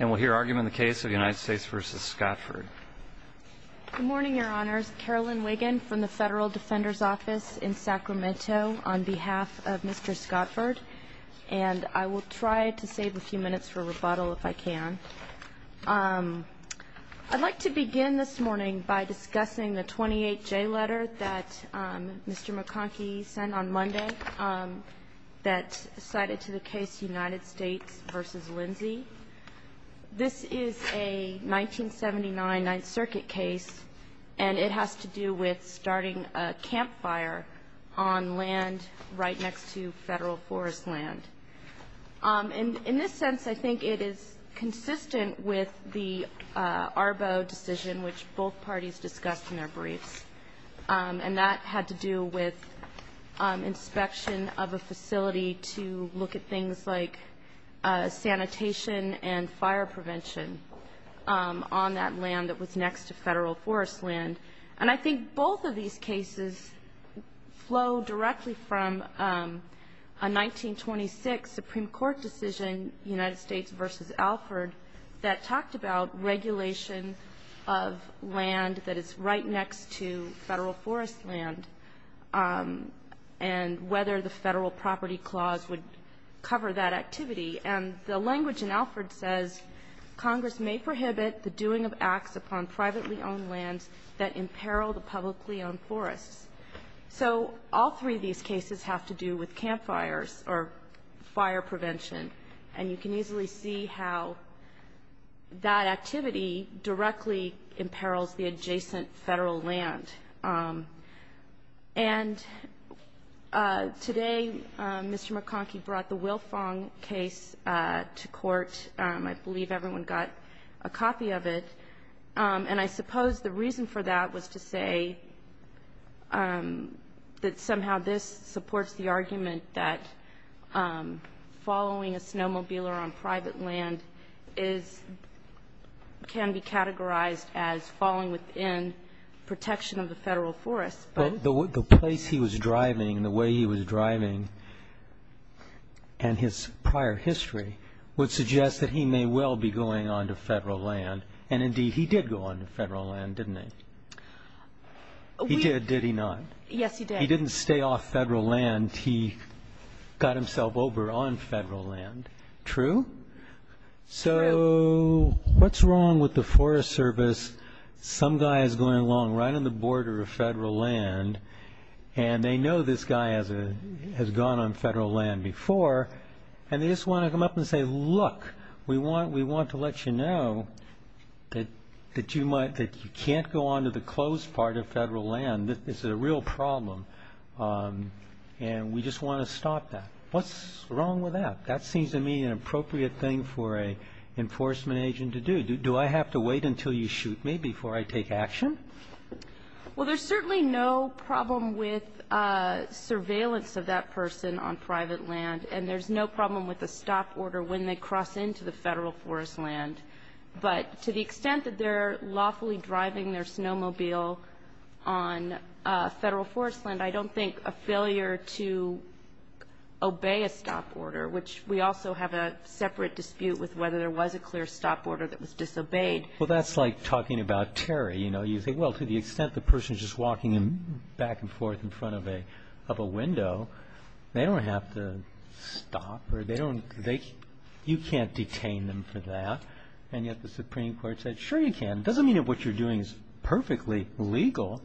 And we'll hear argument in the case of United States v. Scotford Good morning, your honors. Carolyn Wiggin from the Federal Defender's Office in Sacramento on behalf of Mr. Scotford And I will try to save a few minutes for rebuttal if I can I'd like to begin this morning by discussing the 28-J letter that Mr. McConkie sent on Monday That cited to the case United States v. Lindsay This is a 1979 Ninth Circuit case And it has to do with starting a campfire on land right next to federal forest land In this sense, I think it is consistent with the Arbo decision which both parties discussed in their briefs And that had to do with inspection of a facility to look at things like sanitation and fire prevention On that land that was next to federal forest land And I think both of these cases flow directly from a 1926 Supreme Court decision, United States v. Alford That talked about regulation of land that is right next to federal forest land And whether the Federal Property Clause would cover that activity And the language in Alford says Congress may prohibit the doing of acts upon privately owned lands that imperil the publicly owned forests So all three of these cases have to do with campfires or fire prevention And you can easily see how that activity directly imperils the adjacent federal land And today, Mr. McConkie brought the Wilfong case to court I believe everyone got a copy of it And I suppose the reason for that was to say that somehow this supports the argument That following a snowmobiler on private land can be categorized as falling within protection of the federal forest But the place he was driving, the way he was driving, and his prior history Would suggest that he may well be going onto federal land And indeed, he did go onto federal land, didn't he? He did, did he not? Yes, he did He didn't stay off federal land, he got himself over on federal land, true? True So what's wrong with the Forest Service? Some guy is going along right on the border of federal land And they know this guy has gone on federal land before And they just want to come up and say Look, we want to let you know that you can't go onto the closed part of federal land This is a real problem And we just want to stop that What's wrong with that? That seems to me an appropriate thing for an enforcement agent to do Do I have to wait until you shoot me before I take action? Well, there's certainly no problem with surveillance of that person on private land And there's no problem with a stop order when they cross into the federal forest land But to the extent that they're lawfully driving their snowmobile on federal forest land I don't think a failure to obey a stop order Which we also have a separate dispute with whether there was a clear stop order that was disobeyed Well, that's like talking about terror, you know You think, well, to the extent the person is just walking back and forth in front of a window They don't have to stop You can't detain them for that And yet the Supreme Court said, sure you can It doesn't mean that what you're doing is perfectly legal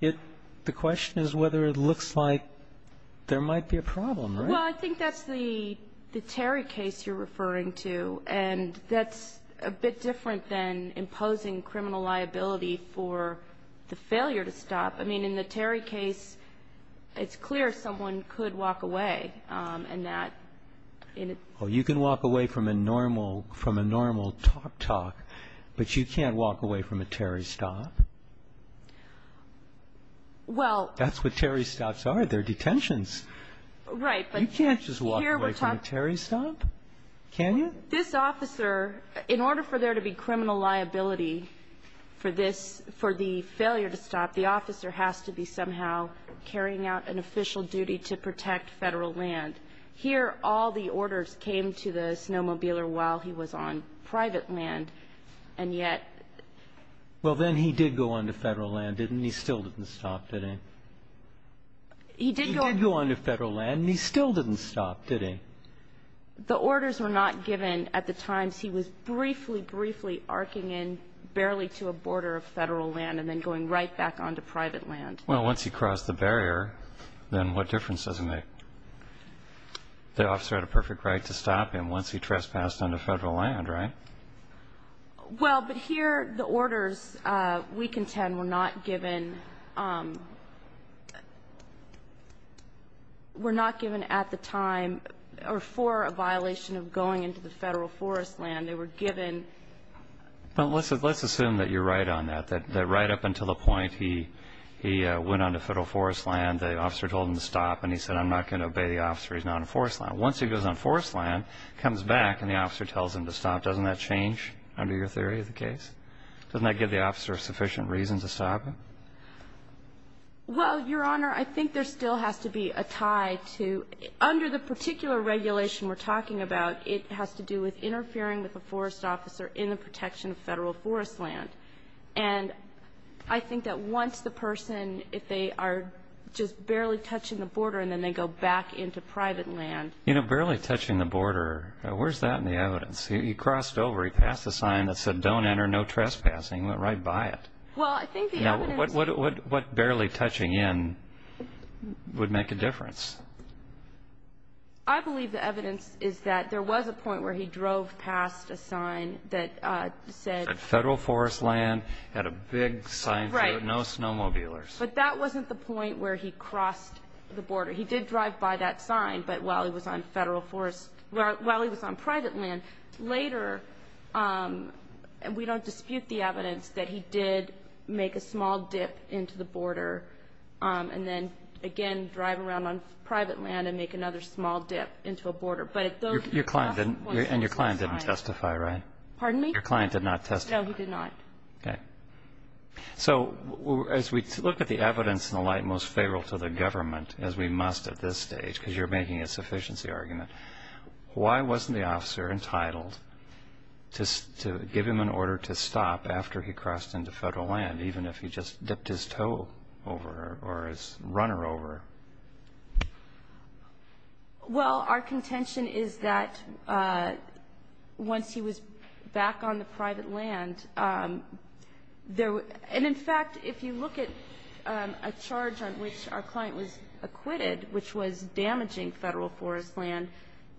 The question is whether it looks like there might be a problem, right? Well, I think that's the Terry case you're referring to And that's a bit different than imposing criminal liability for the failure to stop I mean, in the Terry case, it's clear someone could walk away Well, you can walk away from a normal talk-talk But you can't walk away from a Terry stop That's what Terry stops are, they're detentions You can't just walk away from a Terry stop, can you? This officer, in order for there to be criminal liability for the failure to stop The officer has to be somehow carrying out an official duty to protect federal land Here, all the orders came to the snowmobiler while he was on private land And yet Well, then he did go onto federal land, didn't he? He still didn't stop, did he? He did go onto federal land, and he still didn't stop, did he? The orders were not given at the time He was briefly, briefly arcing in, barely to a border of federal land And then going right back onto private land Well, once he crossed the barrier, then what difference does it make? The officer had a perfect right to stop him once he trespassed onto federal land, right? Well, but here the orders, week and 10, were not given Were not given at the time, or for a violation of going into the federal forest land They were given Well, let's assume that you're right on that That right up until the point he went onto federal forest land The officer told him to stop, and he said, I'm not going to obey the officer He's not on forest land Once he goes on forest land, comes back, and the officer tells him to stop Doesn't that change under your theory of the case? Doesn't that give the officer sufficient reason to stop him? Well, Your Honor, I think there still has to be a tie to Under the particular regulation we're talking about It has to do with interfering with a forest officer in the protection of federal forest land And I think that once the person, if they are just barely touching the border And then they go back into private land You know, barely touching the border, where's that in the evidence? He crossed over, he passed a sign that said, don't enter, no trespassing Went right by it Well, I think the evidence What barely touching in would make a difference? I believe the evidence is that there was a point where he drove past a sign that said Federal forest land, had a big sign, no snowmobilers But that wasn't the point where he crossed the border He did drive by that sign, but while he was on private land Later, we don't dispute the evidence that he did make a small dip into the border And then, again, drive around on private land and make another small dip into a border And your client didn't testify, right? Pardon me? Your client did not testify No, he did not Okay So, as we look at the evidence in the light most favorable to the government As we must at this stage, because you're making a sufficiency argument Why wasn't the officer entitled to give him an order to stop after he crossed into federal land Even if he just dipped his toe over or his runner over? Well, our contention is that once he was back on the private land And in fact, if you look at a charge on which our client was acquitted Which was damaging federal forest land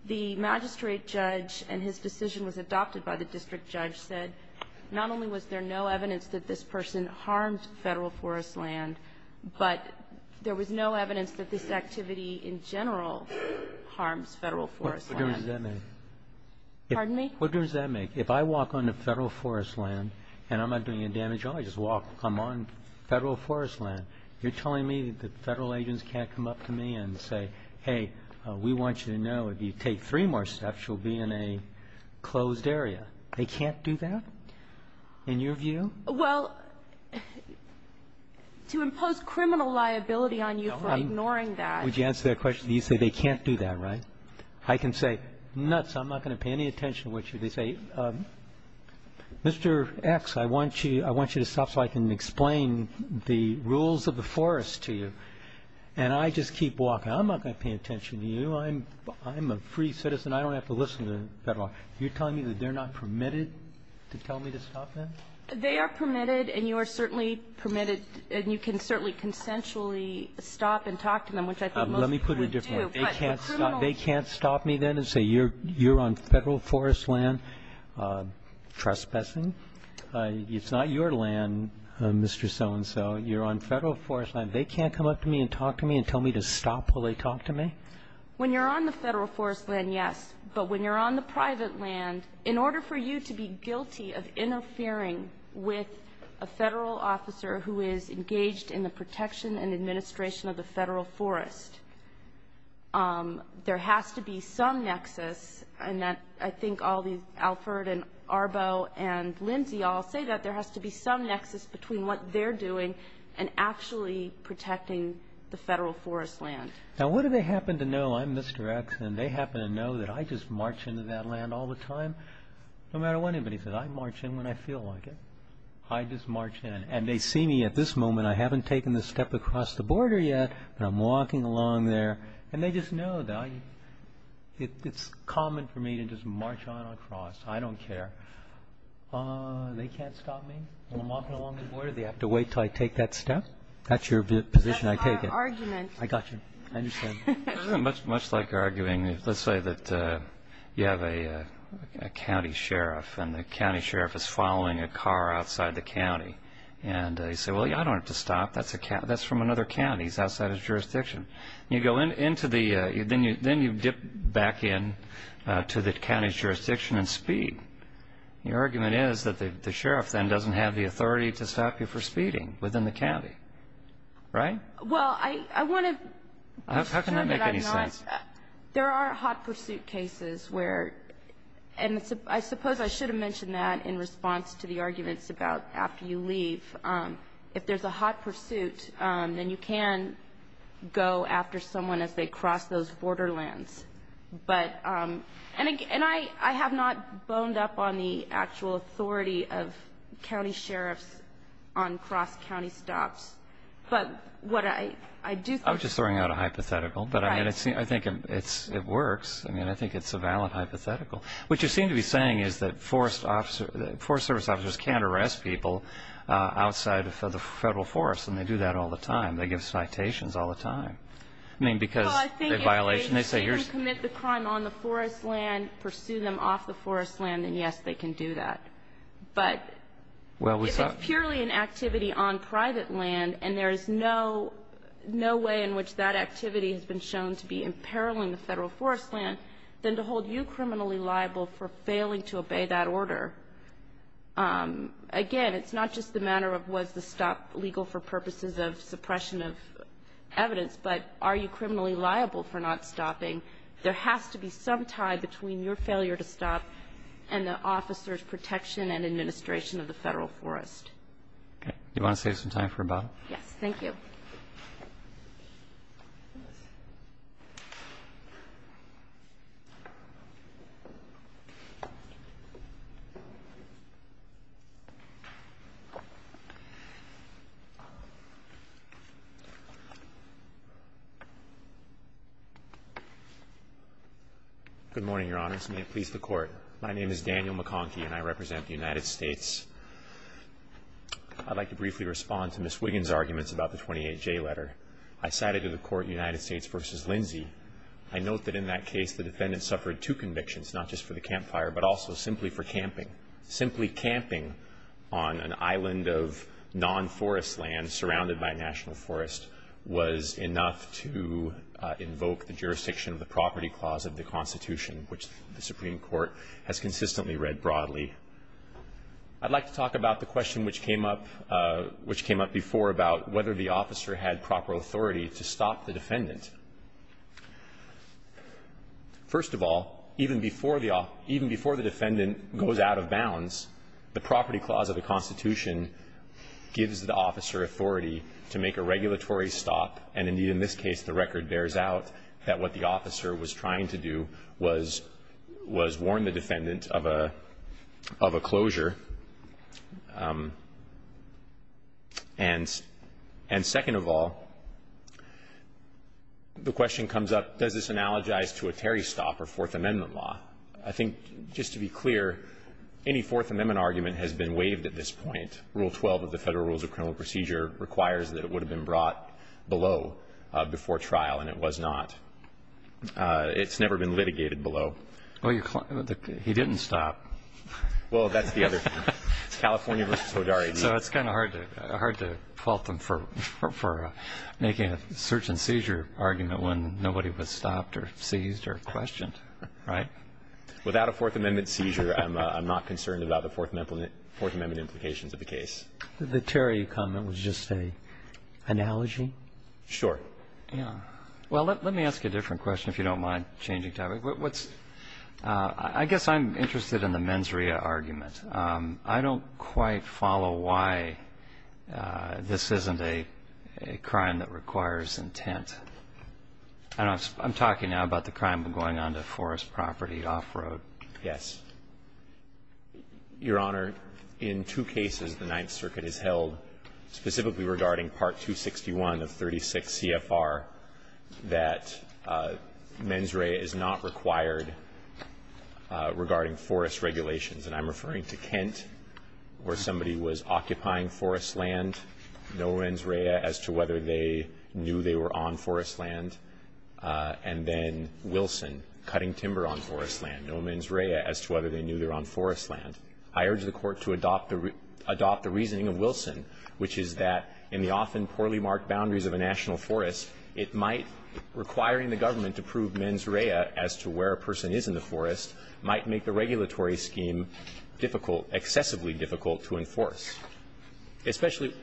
The magistrate judge and his decision was adopted by the district judge said Not only was there no evidence that this person harmed federal forest land But there was no evidence that this activity in general harms federal forest land What difference does that make? Pardon me? What difference does that make? If I walk onto federal forest land and I'm not doing any damage I just walk, I'm on federal forest land You're telling me that the federal agents can't come up to me and say Hey, we want you to know if you take three more steps, you'll be in a closed area They can't do that? In your view? Well, to impose criminal liability on you for ignoring that Would you answer that question? You say they can't do that, right? I can say, nuts, I'm not going to pay any attention to you They say, Mr. X, I want you to stop so I can explain the rules of the forest to you And I just keep walking, I'm not going to pay attention to you I'm a free citizen, I don't have to listen to the federal You're telling me that they're not permitted to tell me to stop then? They are permitted and you are certainly permitted And you can certainly consensually stop and talk to them, which I think most people do Let me put it a different way They can't stop me then and say you're on federal forest land trespassing It's not your land, Mr. So-and-so You're on federal forest land They can't come up to me and talk to me and tell me to stop while they talk to me? When you're on the federal forest land, yes But when you're on the private land, in order for you to be guilty of interfering with a federal officer Who is engaged in the protection and administration of the federal forest There has to be some nexus And I think Alfred and Arbo and Lindsay all say that There has to be some nexus between what they're doing and actually protecting the federal forest land Now what do they happen to know? I'm Mr. X and they happen to know that I just march into that land all the time No matter what anybody says, I march in when I feel like it I just march in and they see me at this moment I haven't taken the step across the border yet But I'm walking along there And they just know that it's common for me to just march on across I don't care They can't stop me when I'm walking along the border They have to wait until I take that step That's your position, I take it That's our argument I got you, I understand It's much like arguing, let's say that you have a county sheriff And the county sheriff is following a car outside the county And you say, well I don't have to stop, that's from another county, it's outside his jurisdiction Then you dip back in to the county's jurisdiction and speed Your argument is that the sheriff then doesn't have the authority to stop you for speeding within the county Right? Well, I want to make sure that I'm not How can that make any sense? There are hot pursuit cases where, and I suppose I should have mentioned that in response to the arguments about after you leave If there's a hot pursuit, then you can go after someone as they cross those borderlands But, and I have not boned up on the actual authority of county sheriffs on cross county stops But what I do think I was just throwing out a hypothetical Right But I think it works, I think it's a valid hypothetical What you seem to be saying is that forest service officers can't arrest people outside of the federal forest And they do that all the time, they give citations all the time Well I think if they can commit the crime on the forest land, pursue them off the forest land, then yes they can do that But if it's purely an activity on private land and there's no way in which that activity has been shown to be imperiling the federal forest land Then to hold you criminally liable for failing to obey that order Again, it's not just the matter of was the stop legal for purposes of suppression of evidence But are you criminally liable for not stopping? There has to be some tie between your failure to stop and the officer's protection and administration of the federal forest Do you want to save some time for a bottle? Yes, thank you Good morning your honors, may it please the court My name is Daniel McConkie and I represent the United States I'd like to briefly respond to Ms. Wiggins' arguments about the 28J letter I cited to the court United States v. Lindsay I note that in that case the defendant suffered two convictions, not just for the campfire but also simply for camping The property clause of the Constitution which the Supreme Court has consistently read broadly I'd like to talk about the question which came up before about whether the officer had proper authority to stop the defendant First of all, even before the defendant goes out of bounds The property clause of the Constitution gives the officer authority to make a regulatory stop And indeed in this case the record bears out that what the officer was trying to do was warn the defendant of a closure And second of all, the question comes up, does this analogize to a Terry stop or Fourth Amendment law? I think just to be clear, any Fourth Amendment argument has been waived at this point Rule 12 of the Federal Rules of Criminal Procedure requires that it would have been brought below before trial and it was not It's never been litigated below Well, he didn't stop Well, that's the other thing. It's California v. Hodari So it's kind of hard to fault them for making a search and seizure argument when nobody was stopped or seized or questioned, right? Without a Fourth Amendment seizure, I'm not concerned about the Fourth Amendment implications of the case The Terry comment was just an analogy? Sure Well, let me ask a different question if you don't mind changing topics I guess I'm interested in the mens rea argument I don't quite follow why this isn't a crime that requires intent I'm talking now about the crime of going onto forest property off-road Yes Your Honor, in two cases the Ninth Circuit has held, specifically regarding Part 261 of 36 CFR, that mens rea is not required regarding forest regulations And I'm referring to Kent, where somebody was occupying forest land, no mens rea as to whether they knew they were on forest land And then Wilson, cutting timber on forest land, no mens rea as to whether they knew they were on forest land I urge the Court to adopt the reasoning of Wilson, which is that in the often poorly marked boundaries of a national forest, it might Requiring the government to prove mens rea as to where a person is in the forest might make the regulatory scheme difficult, excessively difficult to enforce Especially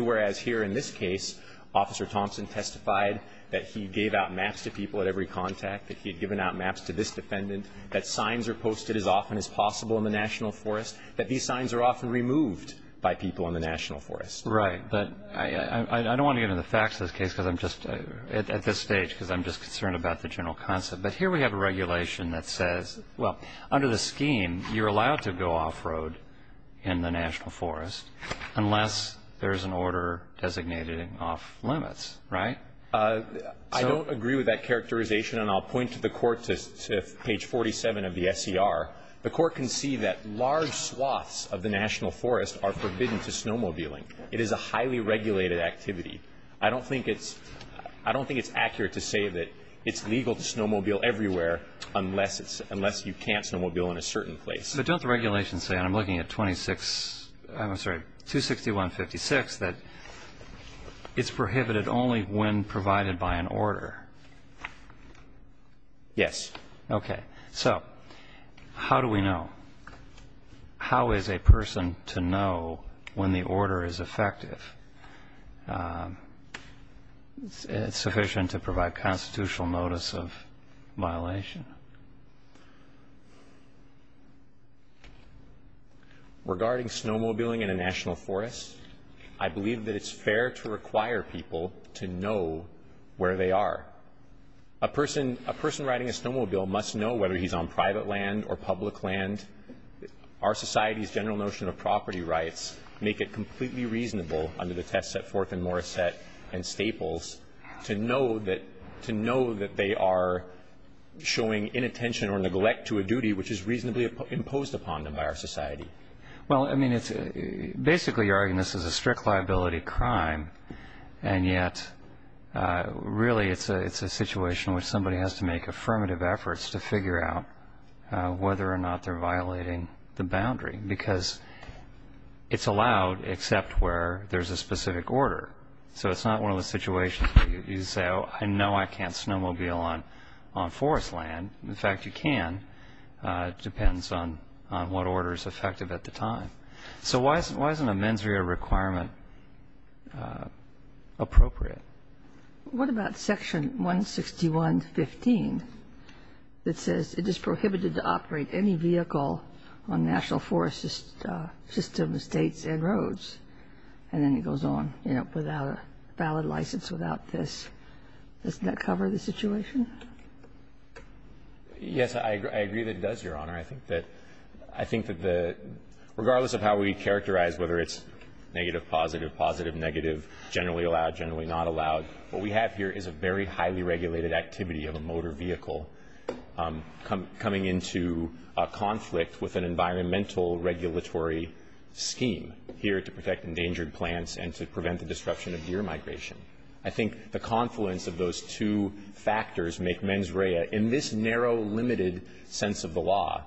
whereas here in this case, Officer Thompson testified that he gave out maps to people at every contact That he had given out maps to this defendant, that signs are posted as often as possible in the national forest That these signs are often removed by people in the national forest Right, but I don't want to get into the facts of this case at this stage, because I'm just concerned about the general concept But here we have a regulation that says, well, under the scheme, you're allowed to go off-road in the national forest Unless there's an order designating off-limits, right? I don't agree with that characterization, and I'll point to the Court to page 47 of the SCR The Court can see that large swaths of the national forest are forbidden to snowmobiling It is a highly regulated activity I don't think it's accurate to say that it's legal to snowmobile everywhere unless you can't snowmobile in a certain place But don't the regulations say, and I'm looking at 26, I'm sorry, 261.56, that it's prohibited only when provided by an order? Yes Okay, so how do we know? How is a person to know when the order is effective? Is it sufficient to provide constitutional notice of violation? Regarding snowmobiling in a national forest, I believe that it's fair to require people to know where they are A person riding a snowmobile must know whether he's on private land or public land Our society's general notion of property rights make it completely reasonable under the test set forth in Morissette and Staples to know that they are showing inattention or neglect to a duty which is reasonably imposed upon them by our society Well, I mean, basically you're arguing this is a strict liability crime and yet really it's a situation where somebody has to make affirmative efforts to figure out whether or not they're violating the boundary because it's allowed except where there's a specific order So it's not one of those situations where you say, oh, I know I can't snowmobile on forest land In fact, you can. It depends on what order is effective at the time So why isn't a mens rea requirement appropriate? What about section 161.15 that says it is prohibited to operate any vehicle on national forest systems, states, and roads? And then it goes on, you know, without a valid license, without this Doesn't that cover the situation? Yes, I agree that it does, Your Honor I think that regardless of how we characterize whether it's negative, positive, positive, negative, generally allowed, generally not allowed what we have here is a very highly regulated activity of a motor vehicle coming into conflict with an environmental regulatory scheme here to protect endangered plants and to prevent the disruption of deer migration I think the confluence of those two factors make mens rea, in this narrow, limited sense of the law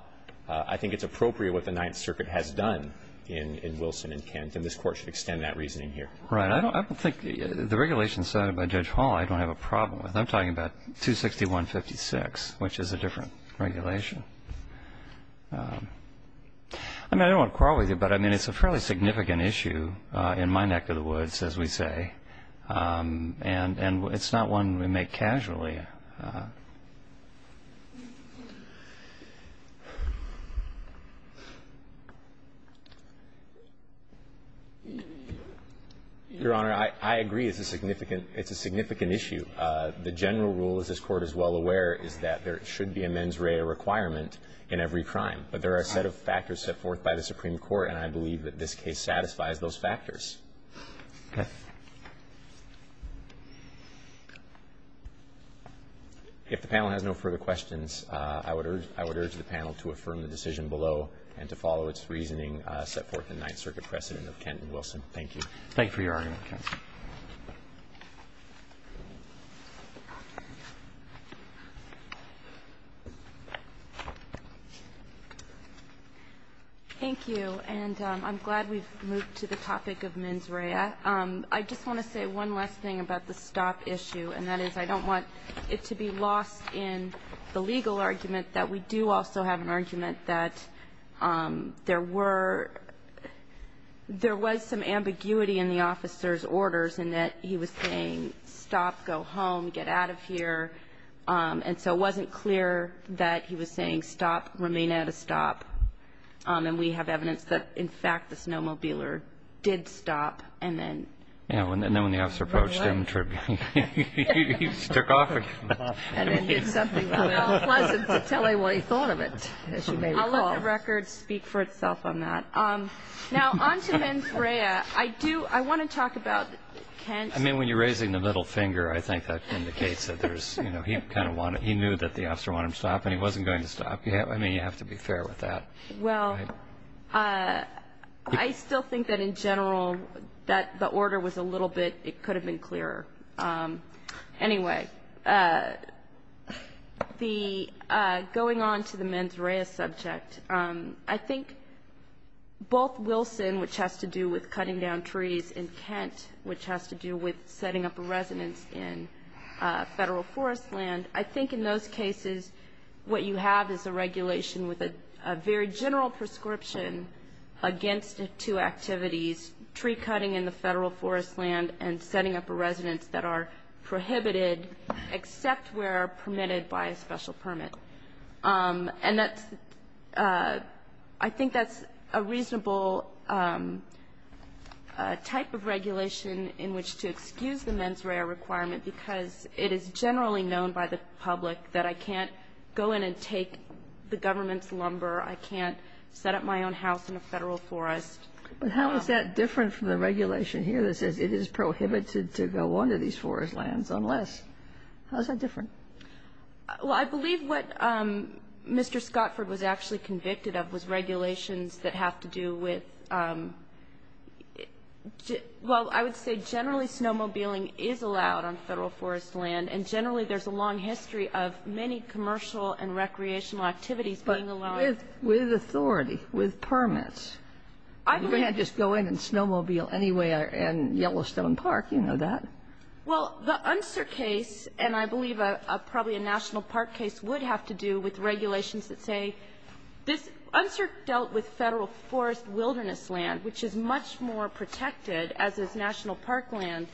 I think it's appropriate what the Ninth Circuit has done in Wilson and Kent and this Court should extend that reasoning here Right. I don't think the regulations cited by Judge Hall I don't have a problem with I'm talking about 261.56, which is a different regulation I don't want to quarrel with you, but it's a fairly significant issue in my neck of the woods, as we say and it's not one we make casually Your Honor, I agree it's a significant issue The general rule, as this Court is well aware, is that there should be a mens rea requirement in every crime but there are a set of factors set forth by the Supreme Court and I believe that this case satisfies those factors If the panel has no further questions, I would urge the panel to affirm the decision below and to follow its reasoning set forth in the Ninth Circuit precedent of Kent and Wilson Thank you. Thank you for your argument, counsel. Thank you. And I'm glad we've moved to the topic of mens rea. I just want to say one last thing about the stop issue and that is I don't want it to be lost in the legal argument that we do also have an argument that there was some ambiguity in the officer's orders in that he was saying stop, go home, get out of here and so it wasn't clear that he was saying stop, remain at a stop and we have evidence that, in fact, the snowmobiler did stop and then when the officer approached him, he took off again. It's unpleasant to tell anyone he thought of it, as you may recall. I'll let the record speak for itself on that. Now, on to mens rea, I want to talk about Kent's... I mean, when you're raising the middle finger, I think that indicates that he knew that the officer wanted him to stop and he wasn't going to stop. I mean, you have to be fair with that. Well, I still think that, in general, that the order was a little bit... It could have been clearer. Anyway, going on to the mens rea subject, I think both Wilson, which has to do with cutting down trees, and Kent, which has to do with setting up a residence in federal forest land, and I think in those cases, what you have is a regulation with a very general prescription against two activities, tree cutting in the federal forest land and setting up a residence that are prohibited, except where permitted by a special permit. And that's, I think that's a reasonable type of regulation in which to excuse the mens rea requirement because it is generally known by the public that I can't go in and take the government's lumber, I can't set up my own house in a federal forest. But how is that different from the regulation here that says it is prohibited to go onto these forest lands unless? How is that different? Well, I believe what Mr. Scottford was actually convicted of was regulations that have to do with... Well, I would say generally snowmobiling is allowed on federal forest land, and generally there's a long history of many commercial and recreational activities being allowed. But with authority, with permits? I believe... You can't just go in and snowmobile anywhere in Yellowstone Park. You know that. Well, the Unser case, and I believe probably a national park case, would have to do with regulations that say this Unser dealt with federal forest wilderness land, which is much more protected as is national park land.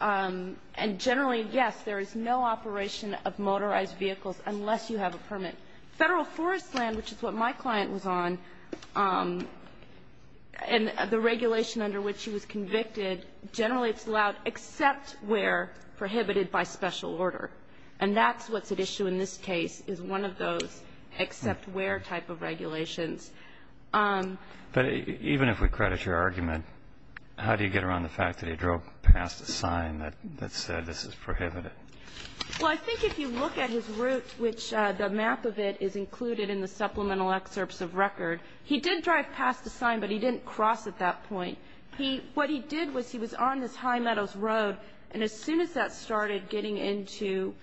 And generally, yes, there is no operation of motorized vehicles unless you have a permit. Federal forest land, which is what my client was on, and the regulation under which he was convicted, generally it's allowed except where prohibited by special order. And that's what's at issue in this case, is one of those except where type of regulations. But even if we credit your argument, how do you get around the fact that he drove past a sign that said this is prohibited? Well, I think if you look at his route, which the map of it is included in the supplemental excerpts of record, he did drive past a sign, but he didn't cross at that point. What he did was he was on this high meadows road, and as soon as that started getting into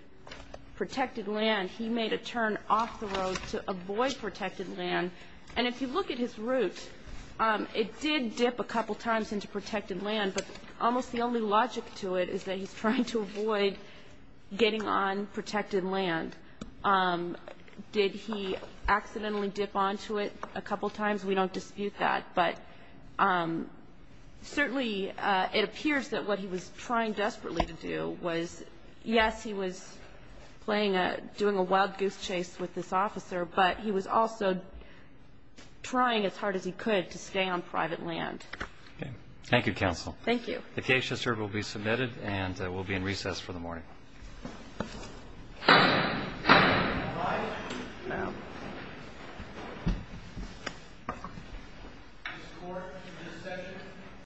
protected land, he made a turn off the road to avoid protected land. And if you look at his route, it did dip a couple times into protected land, but almost the only logic to it is that he's trying to avoid getting on protected land. Did he accidentally dip onto it a couple times? We don't dispute that, but certainly it appears that what he was trying desperately to do was, yes, he was playing a doing a wild goose chase with this officer, but he was also trying as hard as he could to stay on private land. Okay. Thank you, counsel. Thank you. The case has served, will be submitted, and will be in recess for the morning. Alive? No. Is this court in recess?